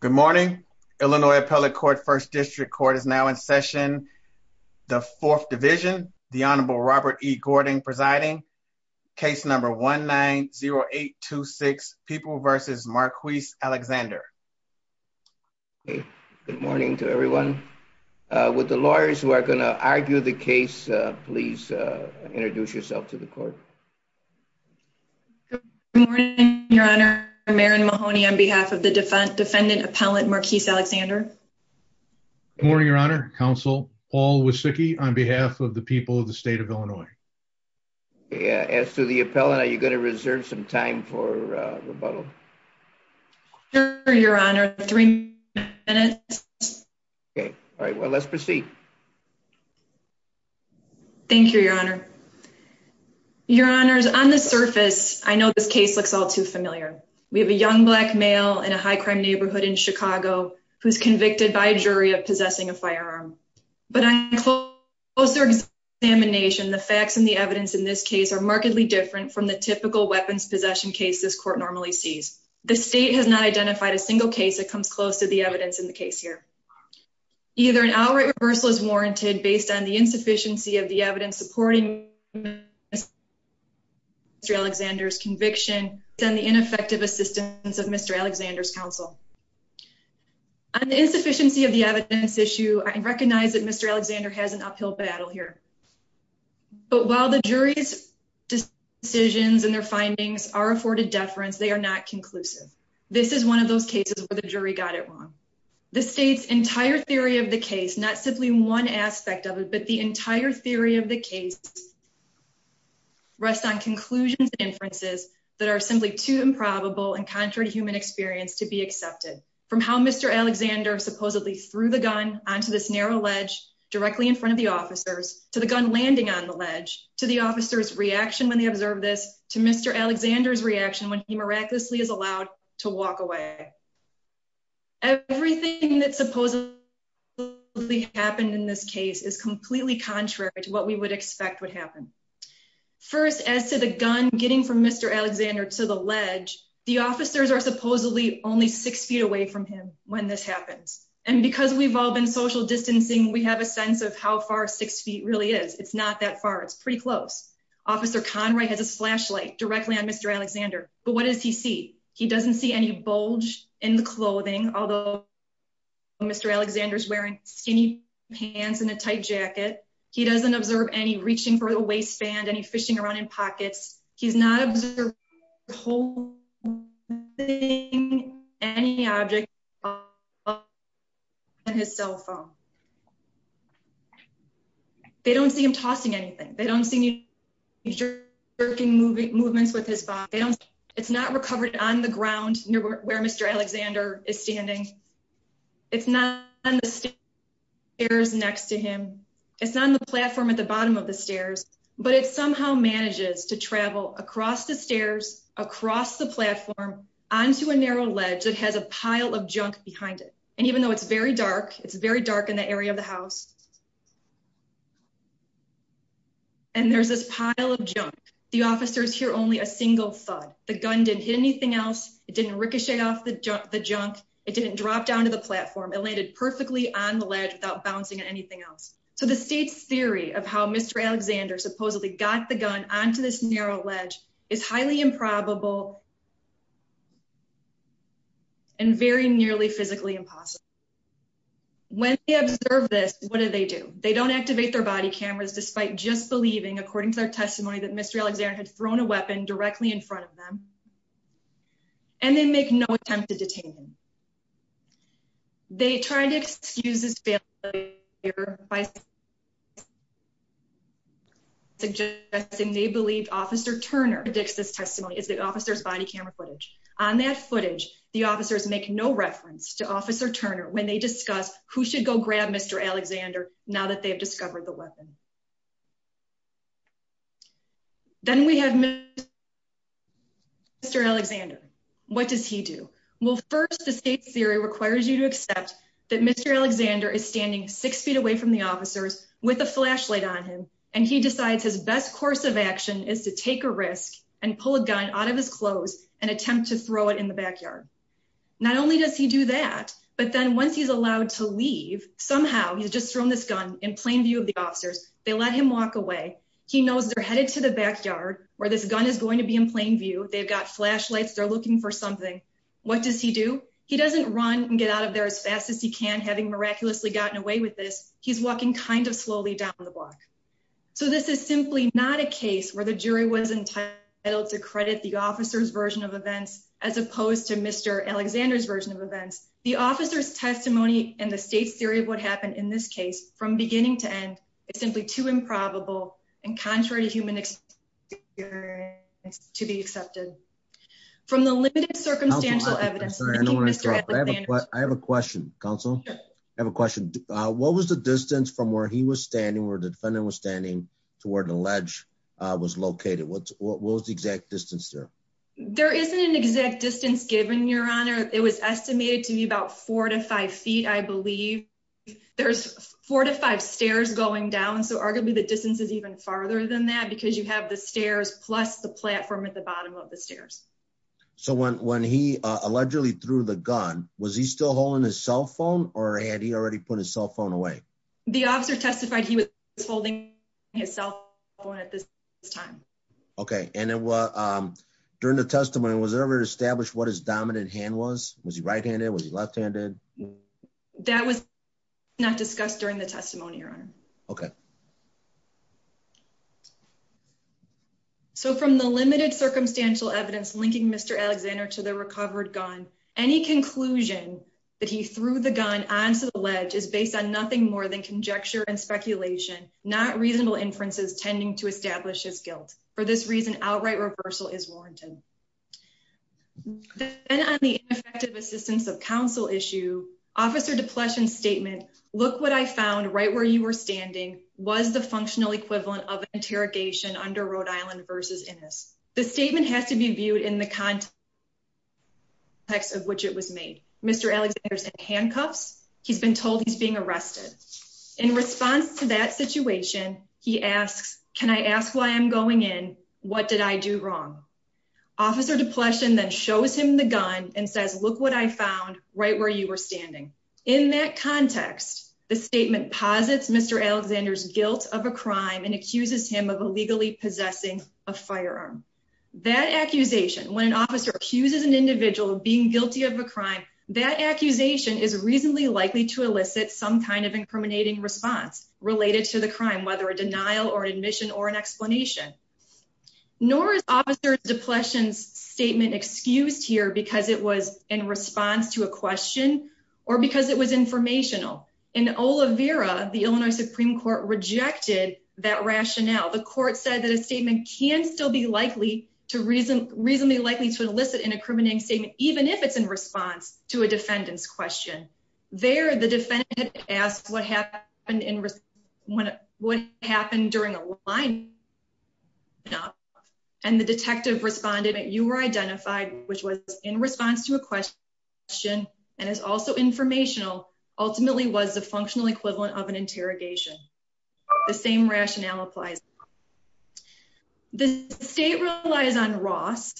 Good morning, Illinois Appellate Court, 1st District Court is now in session, the 4th Division, the Honorable Robert E. Gordon presiding, case number 1-9-0-8-2-6, People v. Marquise Alexander. Good morning to everyone. With the lawyers who are going to argue the case, please introduce yourself to the court. Good morning, Your Honor. I'm Erin Mahoney on behalf of the Defendant Appellant Marquise Alexander. Good morning, Your Honor. Counsel Paul Wysicki on behalf of the people of the state of Illinois. As to the appellant, are you going to reserve some time for rebuttal? Sure, Your Honor. Three minutes. Okay. All right. Well, let's proceed. Thank you, Your Honor. Your Honors, on the surface, I know this case looks all too familiar. We have a young black male in a high-crime neighborhood in Chicago who's convicted by a jury of possessing a firearm. But on closer examination, the facts and the evidence in this case are markedly different from the typical weapons possession case this court normally sees. The state has not identified a single case that comes close to the evidence in the case here. Either an outright reversal is warranted based on the insufficiency of the evidence supporting Mr. Alexander's conviction, or based on the ineffective assistance of Mr. Alexander's counsel. On the insufficiency of the evidence issue, I recognize that Mr. Alexander has an uphill battle here. But while the jury's decisions and their findings are afforded deference, they are not conclusive. This is one of those cases where the jury got it wrong. The state's entire theory of the case, not simply one aspect of it, but the entire theory of the case, rests on conclusions and inferences that are simply too improbable and contrary to human experience to be accepted. From how Mr. Alexander supposedly threw the gun onto this narrow ledge directly in front of the officers, to the gun landing on the ledge, to the officer's reaction when they observed this, to Mr. Alexander's reaction when he miraculously is allowed to walk away. Everything that supposedly happened in this case is completely contrary to what we would expect would happen. First, as to the gun getting from Mr. Alexander to the ledge, the officers are supposedly only six feet away from him when this happens. And because we've all been social distancing, we have a sense of how far six feet really is. It's not that far. It's pretty close. Officer Conroy has a flashlight directly on Mr. Alexander, but what does he see? He doesn't see any bulge in the clothing, although Mr. Alexander's wearing skinny pants and a tight jacket. He doesn't observe any reaching for a waistband, any fishing around in pockets. He's not observing or holding any object other than his cell phone. They don't see him tossing anything. They don't see any jerking movements with his body. It's not recovered on the ground where Mr. Alexander is standing. It's not on the stairs next to him. It's not on the platform at the bottom of the stairs. But it somehow manages to travel across the stairs, across the platform, onto a narrow ledge that has a pile of junk behind it. And even though it's very dark, it's very dark in the area of the house. And there's this pile of junk. The officers hear only a single thud. The gun didn't hit anything else. It didn't ricochet off the junk. It didn't drop down to the platform. It landed perfectly on the ledge without bouncing on anything else. So the state's theory of how Mr. Alexander supposedly got the gun onto this narrow ledge is highly improbable and very nearly physically impossible. When they observe this, what do they do? They don't activate their body cameras despite just believing, according to their testimony, that Mr. Alexander had thrown a weapon directly in front of them. And they make no attempt to detain him. They tried to excuse this failure by suggesting they believed Officer Turner predicts this testimony. It's the officer's body camera footage. On that footage, the officers make no reference to Officer Turner when they discuss who should go grab Mr. Alexander now that they've discovered the weapon. Then we have Mr. Alexander. What does he do? Well, first, the state's theory requires you to accept that Mr. Alexander is standing six feet away from the officers with a flashlight on him. And he decides his best course of action is to take a risk and pull a gun out of his clothes and attempt to throw it in the backyard. Not only does he do that, but then once he's allowed to leave, somehow he's just thrown this gun in plain view of the officers. They let him walk away. He knows they're headed to the backyard where this gun is going to be in plain view. They've got flashlights. They're looking for something. What does he do? He doesn't run and get out of there as fast as he can, having miraculously gotten away with this. He's walking kind of slowly down the block. So this is simply not a case where the jury was entitled to credit the officer's version of events as opposed to Mr. Alexander's version of events. The officer's testimony and the state's theory of what happened in this case from beginning to end is simply too improbable and contrary to human experience to be accepted. From the limited circumstantial evidence... I have a question, Counsel. I have a question. What was the distance from where he was standing where the defendant was standing to where the ledge was located? What was the exact distance there? There isn't an exact distance given, Your Honor. It was estimated to be about four to five feet, I believe. There's four to five stairs going down. So arguably the distance is even farther than that because you have the stairs plus the platform at the bottom of the stairs. So when he allegedly threw the gun, was he still holding his cell phone or had he already put his cell phone away? The officer testified he was holding his cell phone at this time. Okay. And during the testimony, was there ever established what his dominant hand was? Was he right-handed? Was he left-handed? That was not discussed during the testimony, Your Honor. Okay. So from the limited circumstantial evidence linking Mr. Alexander to the recovered gun, any conclusion that he threw the gun onto the ledge is based on nothing more than conjecture and speculation, not reasonable inferences tending to establish his guilt. For this reason, outright reversal is warranted. Then on the ineffective assistance of counsel issue, Officer DePlessin's statement, look what I found right where you were standing was the functional equivalent of interrogation under Rhode Island v. Innis. The statement has to be viewed in the context of which it was made. Mr. Alexander's in handcuffs. He's been told he's being arrested. In response to that situation, he asks, can I ask why I'm going in? What did I do wrong? Officer DePlessin then shows him the gun and says, look what I found right where you were standing. In that context, the statement posits Mr. Alexander's guilt of a crime and accuses him of illegally possessing a firearm. That accusation, when an officer accuses an individual of being guilty of a crime, that accusation is reasonably likely to elicit some kind of incriminating response related to the crime, whether a denial or admission or an explanation. Nor is Officer DePlessin's statement excused here because it was in response to a question or because it was informational. In Olivera, the Illinois Supreme Court rejected that rationale. The court said that a statement can still be likely to reason reasonably likely to elicit an incriminating statement, even if it's in response to a defendant's question. There, the defendant asked what happened in what happened during a line and the detective responded that you were identified, which was in response to a question and is also informational, ultimately was the functional equivalent of an interrogation. The same rationale applies. The state relies on Ross,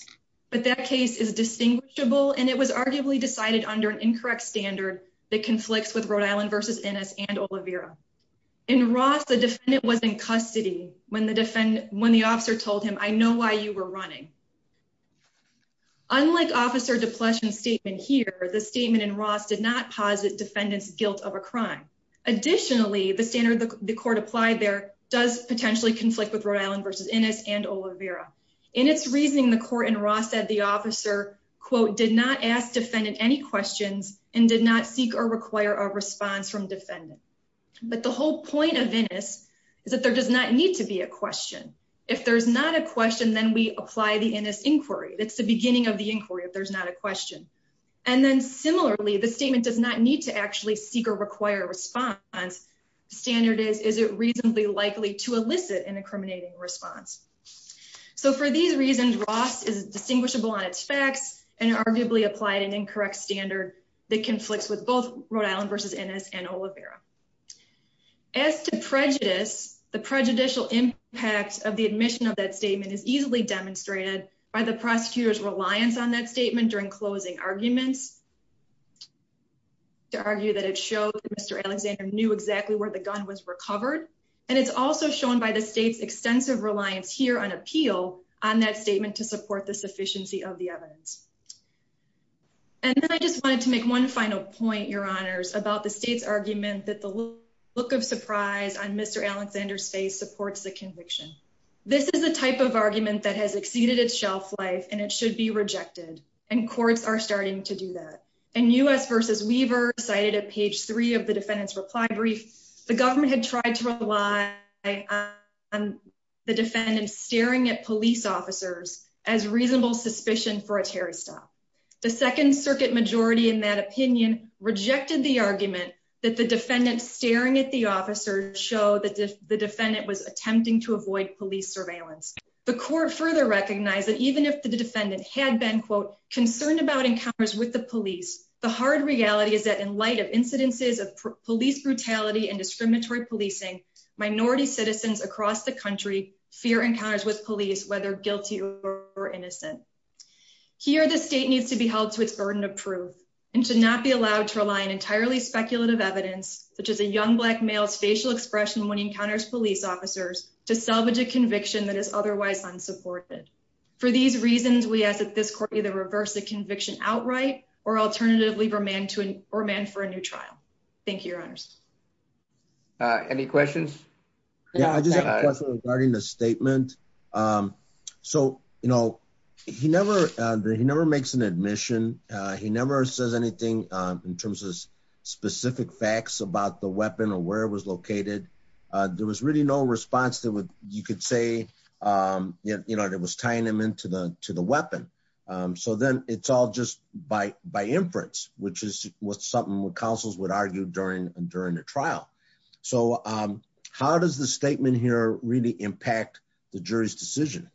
but that case is distinguishable, and it was arguably decided under an incorrect standard that conflicts with Rhode Island versus Ennis and Olivera. In Ross, the defendant was in custody when the officer told him, I know why you were running. Unlike Officer DePlessin's statement here, the statement in Ross did not posit defendant's guilt of a crime. Additionally, the standard the court applied there does potentially conflict with Rhode Island versus Ennis and Olivera. In its reasoning, the court in Ross said the officer, quote, did not ask defendant any questions and did not seek or require a response from defendant. But the whole point of Ennis is that there does not need to be a question. If there's not a question, then we apply the Ennis inquiry. That's the beginning of the inquiry. If there's not a question. And then similarly, the statement does not need to actually seek or require a response. Standard is, is it reasonably likely to elicit an incriminating response? So for these reasons, Ross is distinguishable on its facts and arguably applied an incorrect standard that conflicts with both Rhode Island versus Ennis and Olivera. As to prejudice, the prejudicial impact of the admission of that statement is easily demonstrated by the prosecutor's reliance on that statement during closing arguments. To argue that it showed Mr. Alexander knew exactly where the gun was recovered. And it's also shown by the state's extensive reliance here on appeal on that statement to support the sufficiency of the evidence. And then I just wanted to make one final point, Your Honors, about the state's argument that the look of surprise on Mr. Alexander's face supports the conviction. This is a type of argument that has exceeded its shelf life and it should be rejected. And courts are starting to do that. In U.S. versus Weaver cited at page three of the defendant's reply brief, the government had tried to rely on the defendant staring at police officers as reasonable suspicion for a Terry stop. The Second Circuit majority in that opinion rejected the argument that the defendant staring at the officer show that the defendant was attempting to avoid police surveillance. The court further recognized that even if the defendant had been quote concerned about encounters with the police. The hard reality is that in light of incidences of police brutality and discriminatory policing minority citizens across the country fear encounters with police, whether guilty or innocent. Here the state needs to be held to its burden of proof and should not be allowed to rely on entirely speculative evidence, such as a young black male's facial expression when he encounters police officers to salvage a conviction that is otherwise unsupported. For these reasons, we ask that this court either reverse the conviction outright or alternatively for man to or man for a new trial. Thank you, Your Honors. Any questions. Regarding the statement. So, you know, he never, he never makes an admission. He never says anything in terms of specific facts about the weapon or where it was located. There was really no response to what you could say, you know, it was tying them into the, to the weapon. So then it's all just by by inference, which is what something would councils would argue during during the trial. So, um, how does the statement here really impact the jury's decision.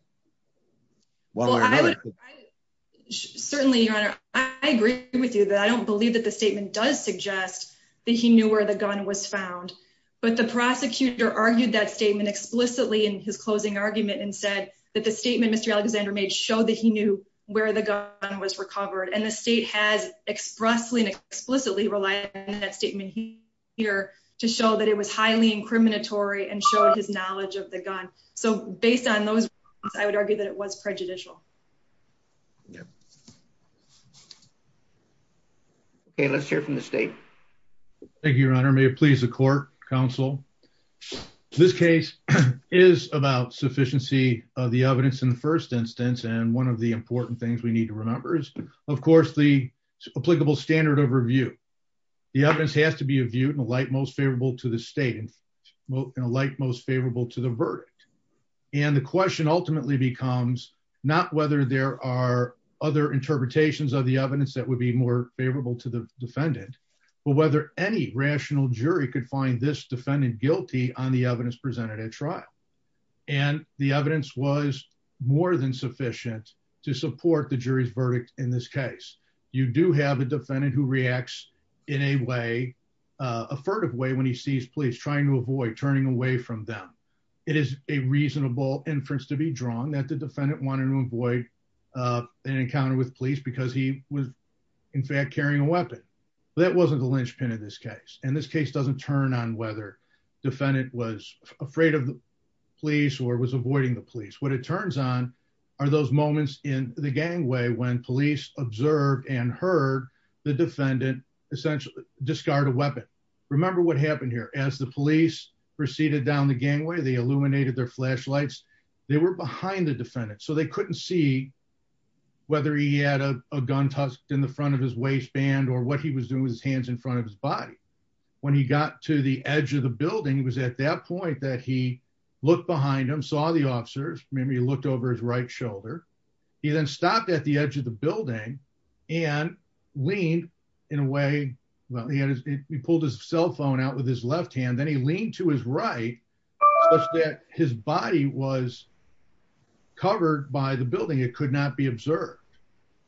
Certainly, I agree with you that I don't believe that the statement does suggest that he knew where the gun was found, but the prosecutor argued that statement explicitly in his closing argument and said that the statement Mr. Alexander made show that he knew where the gun was recovered and the state has expressly and explicitly relied on that statement here to show that it was highly incriminatory and showed his knowledge of the gun. So, based on those, I would argue that it was prejudicial. Okay, let's hear from the state. Thank you, Your Honor may please the court counsel. This case is about sufficiency of the evidence in the first instance and one of the important things we need to remember is, of course, the applicable standard of review. The evidence has to be viewed in a light most favorable to the state and most favorable to the verdict. And the question ultimately becomes not whether there are other interpretations of the evidence that would be more favorable to the defendant, but whether any rational jury could find this defendant guilty on the evidence presented at trial. And the evidence was more than sufficient to support the jury's verdict. In this case, you do have a defendant who reacts in a way, a furtive way when he sees police trying to avoid turning away from them. It is a reasonable inference to be drawn that the defendant wanted to avoid an encounter with police because he was in fact carrying a weapon. That wasn't the linchpin of this case. And this case doesn't turn on whether defendant was afraid of the police or was avoiding the police. What it turns on are those moments in the gangway when police observed and heard the defendant essentially discard a weapon. Remember what happened here as the police proceeded down the gangway they illuminated their flashlights, they were behind the defendant so they couldn't see whether he had a gun tossed in the front of his waistband or what he was doing with his hands in front of his body. When he got to the edge of the building was at that point that he looked behind him saw the officers, maybe looked over his right shoulder. He then stopped at the edge of the building and lean in a way. Well, he pulled his cell phone out with his left hand then he leaned to his right. His body was covered by the building it could not be observed.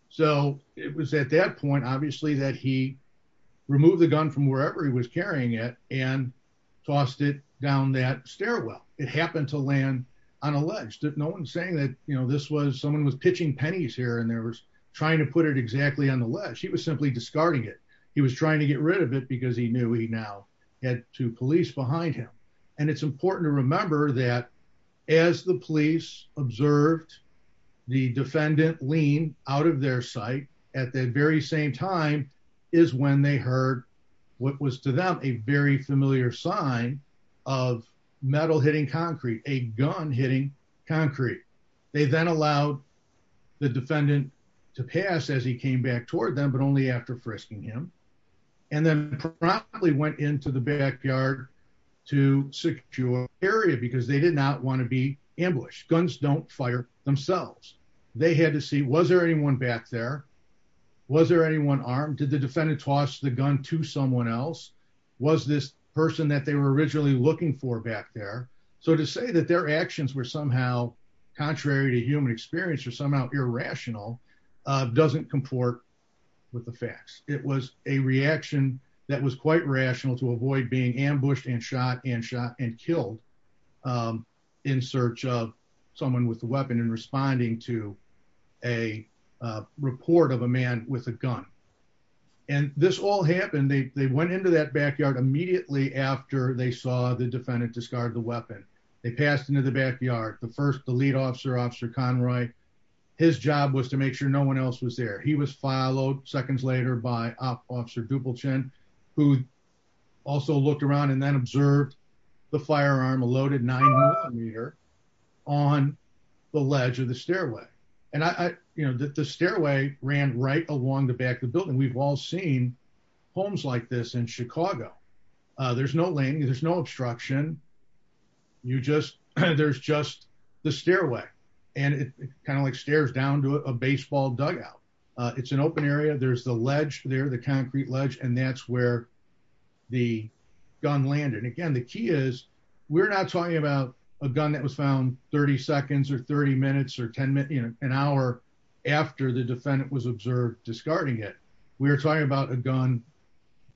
So, it was at that point obviously that he removed the gun from wherever he was carrying it, and tossed it down that stairwell, it happened to land on a ledge that no one saying that you know this was someone was pitching pennies here and there was trying to put it As the police observed the defendant lean out of their sight at that very same time is when they heard what was to them a very familiar sign of metal hitting concrete a gun hitting concrete. They then allowed the defendant to pass as he came back toward them but only after frisking him, and then probably went into the backyard to secure area because they did not want to be ambushed guns don't fire themselves. They had to see was there anyone back there. Was there anyone armed to the defendant toss the gun to someone else. Was this person that they were originally looking for back there. So to say that their actions were somehow contrary to human experience or somehow irrational doesn't comport with the facts, it was a reaction that was quite rational to avoid being ambushed and shot and shot and killed in search of someone with a weapon and responding to a report of a man with a gun. And this all happened they went into that backyard immediately after they saw the defendant discard the weapon. They passed into the backyard, the first the lead officer officer Conroy, his job was to make sure no one else was there. He was followed seconds later by officer Dupulton, who also looked around and then observed the firearm a loaded nine meter on the ledge of the stairway, and I, you know, the stairway ran right along the back of the building we've all seen homes like this in Chicago. There's no lane, there's no obstruction. You just, there's just the stairway, and it kind of like stairs down to a baseball dugout. It's an open area there's the ledge there the concrete ledge and that's where the gun landed again the key is, we're not talking about a gun that was found 30 seconds or 30 minutes or 10 minutes, an hour after the defendant was observed discarding it. We're talking about a gun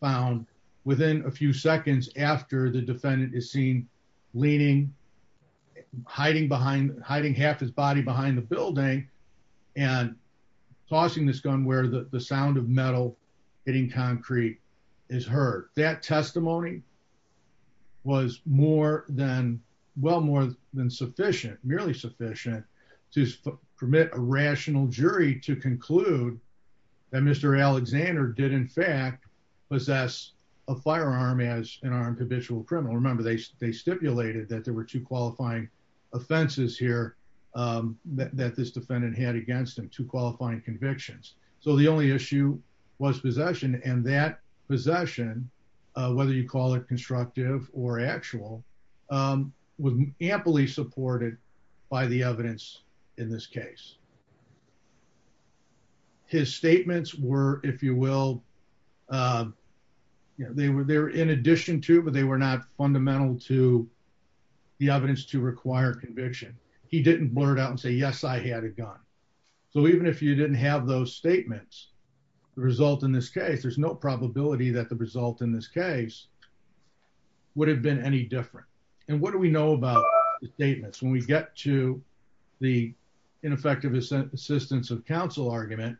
found within a few seconds after the defendant is seen leaning, hiding behind hiding half his body behind the building and tossing this gun where the to permit a rational jury to conclude that Mr. Alexander did in fact possess a firearm as an armed habitual criminal remember they they stipulated that there were two qualifying offenses here that this defendant had against him to qualifying convictions. So the only issue was possession and that possession, whether you call it constructive or actual was amply supported by the evidence in this case, his statements were, if you will, they were there in addition to but they were not fundamental to the evidence to require conviction. He didn't blurt out and say yes I had a gun. So even if you didn't have those statements, the result in this case there's no probability that the result in this case would have been any different. And what do we know about statements when we get to the ineffective assistance of counsel argument.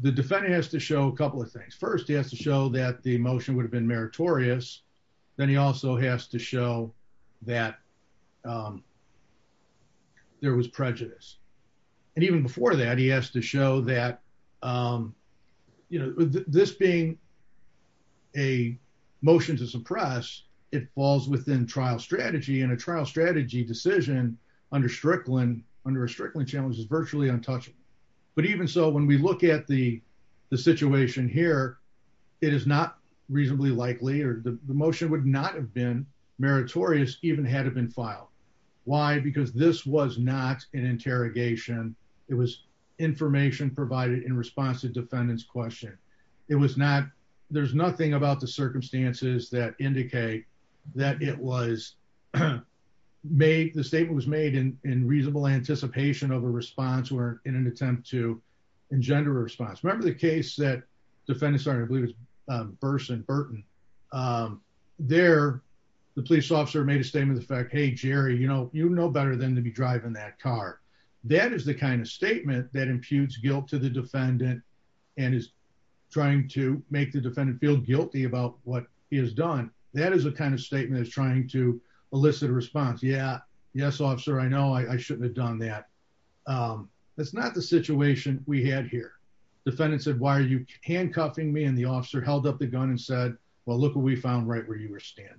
The defendant has to show a couple of things first he has to show that the motion would have been meritorious. Then he also has to show that there was prejudice. And even before that he has to show that, you know, this being a motion to suppress it falls within trial strategy and a trial strategy decision under Strickland under a Strickland challenge is virtually untouchable. But even so when we look at the situation here. It is not reasonably likely or the motion would not have been meritorious even had it been filed. Why because this was not an interrogation. It was information provided in response to defendants question. It was not. There's nothing about the circumstances that indicate that it was made the statement was made in in reasonable anticipation of a response were in an attempt to engender response. Remember the case that defendants are I believe it's Burson Burton. There, the police officer made a statement the fact hey Jerry you know you know better than to be driving that car. That is the kind of statement that imputes guilt to the defendant, and is trying to make the defendant feel guilty about what he has done. That is a kind of statement is trying to elicit a response yeah yes officer I know I shouldn't have done that. That's not the situation we had here. Defendants said why are you handcuffing me and the officer held up the gun and said, Well, look what we found right where you were standing.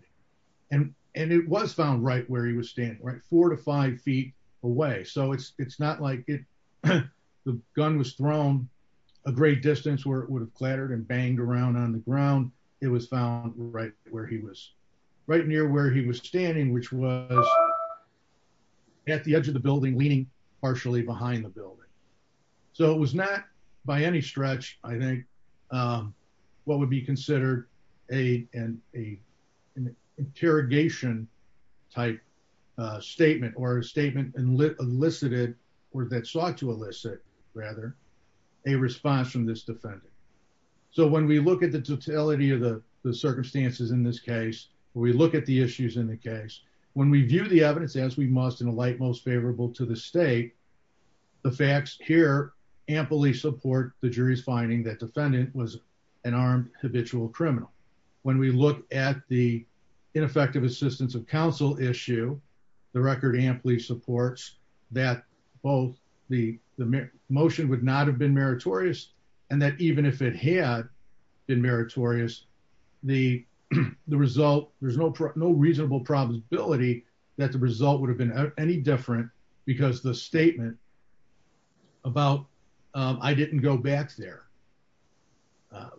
And, and it was found right where he was standing right four to five feet away so it's, it's not like it. The gun was thrown a great distance where it would have clattered and banged around on the ground. It was found right where he was right near where he was standing, which was at the edge of the building leaning partially behind the building. So it was not by any stretch, I think, what would be considered a, an interrogation type statement or statement and lit elicited or that sought to elicit rather a response from this defendant. So when we look at the totality of the circumstances in this case, we look at the issues in the case, when we view the evidence as we must in a light most favorable to the state. The facts here amply support the jury's finding that defendant was an armed habitual criminal. When we look at the ineffective assistance of counsel issue. The record amply supports that both the motion would not have been meritorious, and that even if it had been meritorious, the, the result, there's no, no reasonable probability that the result would have been any different, because the statement about. I didn't go back there.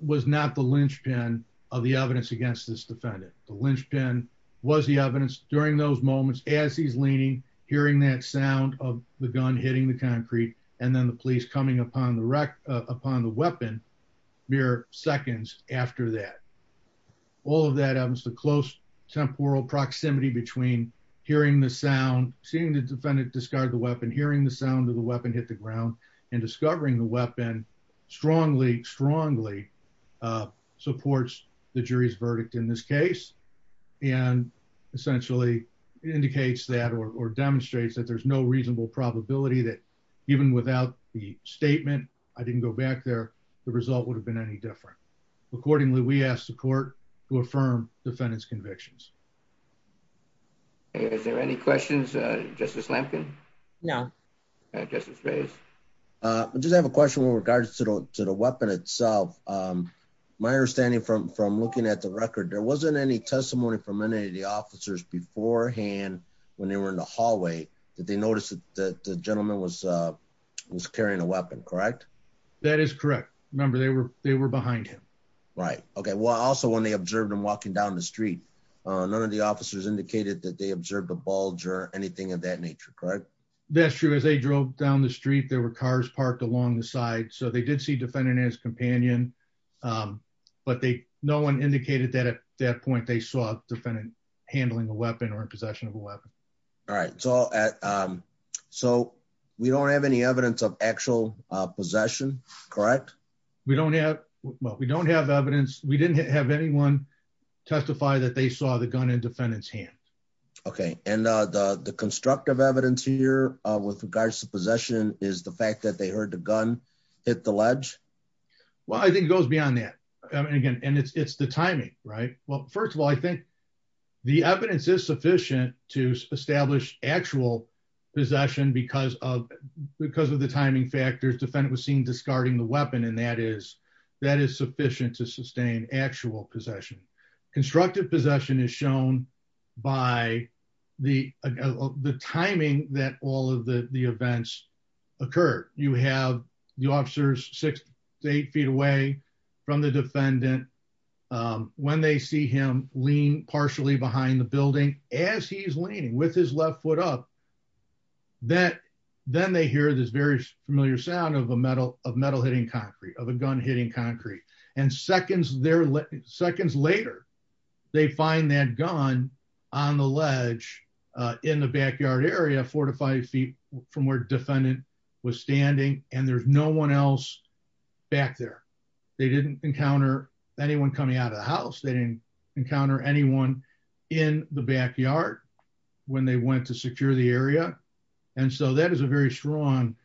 Was not the linchpin of the evidence against this defendant, the linchpin was the evidence during those moments as he's leaning hearing that sound of the gun hitting the concrete, and then the police coming upon the wreck upon the weapon. mere seconds after that. All of that happens to close temporal proximity between hearing the sound, seeing the defendant discard the weapon hearing the sound of the weapon hit the ground and discovering the weapon strongly strongly supports the jury's verdict in this case, and essentially indicates that or demonstrates that there's no reasonable probability that even without the statement. I didn't go back there. The result would have been any different. Accordingly, we asked the court to affirm defendants convictions. Is there any questions, Justice Lampkin. No. I just have a question with regards to the, to the weapon itself. My understanding from from looking at the record there wasn't any testimony from any of the officers beforehand, when they were in the hallway that they noticed that the gentleman was was carrying a weapon correct. That is correct. Remember they were they were behind him. Right. Okay, well also when they observed and walking down the street. None of the officers indicated that they observed a bulge or anything of that nature, correct. That's true as they drove down the street there were cars parked along the side so they did see defendant as companion. But they no one indicated that at that point they saw defendant handling a weapon or possession of a weapon. All right, so, so we don't have any evidence of actual possession. Correct. We don't have what we don't have evidence, we didn't have anyone testify that they saw the gun and defendants hand. Okay, and the constructive evidence here with regards to possession is the fact that they heard the gun at the ledge. Well, I think it goes beyond that. And again, and it's the timing. Right. Well, first of all, I think the evidence is sufficient to establish actual possession because of because of the timing factors defendant was seen discarding the weapon and that is that actual possession constructive possession is shown by the, the timing that all of the events occur, you have the officers, six to eight feet away from the defendant. When they see him lean partially behind the building, as he's leaning with his left foot up that, then they hear this very familiar sound of a metal of metal hitting concrete of a gun hitting concrete and seconds there seconds later, they find that gun on the house they didn't encounter anyone in the backyard. When they went to secure the area. And so that is a very strong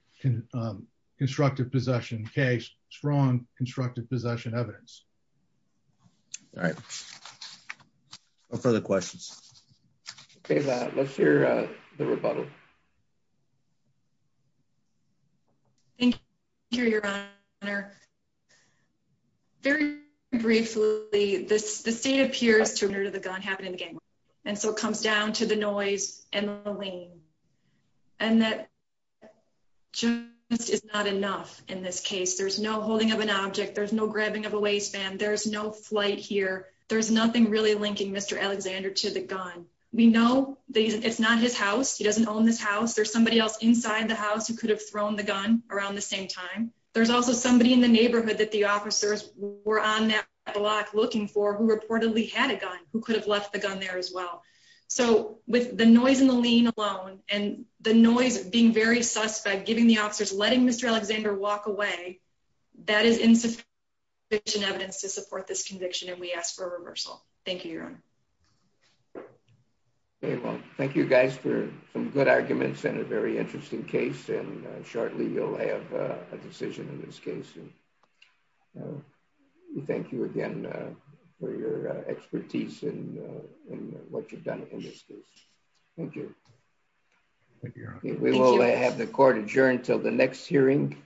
constructive possession case, strong constructive possession evidence. Right. For the questions. Okay, let's hear the rebuttal. Thank you, Your Honor. Very briefly, this, the state appears to have heard of the gun happening again. And so it comes down to the noise and the lane. And that just is not enough in this case there's no holding of an object there's no grabbing of a waistband there's no flight here, there's nothing really linking Mr Alexander to the gun. We know that it's not his house he doesn't own this house there's somebody else inside the house who could have thrown the gun around the same time. There's also somebody in the neighborhood that the officers were on that block looking for who reportedly had a gun, who could have left the gun there as well. So, with the noise in the lean alone, and the noise of being very suspect giving the officers letting Mr Alexander walk away. That is insufficient evidence to support this conviction and we asked for a reversal. Thank you. Thank you guys for some good arguments and a very interesting case and shortly you'll have a decision in this case. Thank you again for your expertise and what you've done in this case. Thank you. We will have the court adjourned till the next hearing.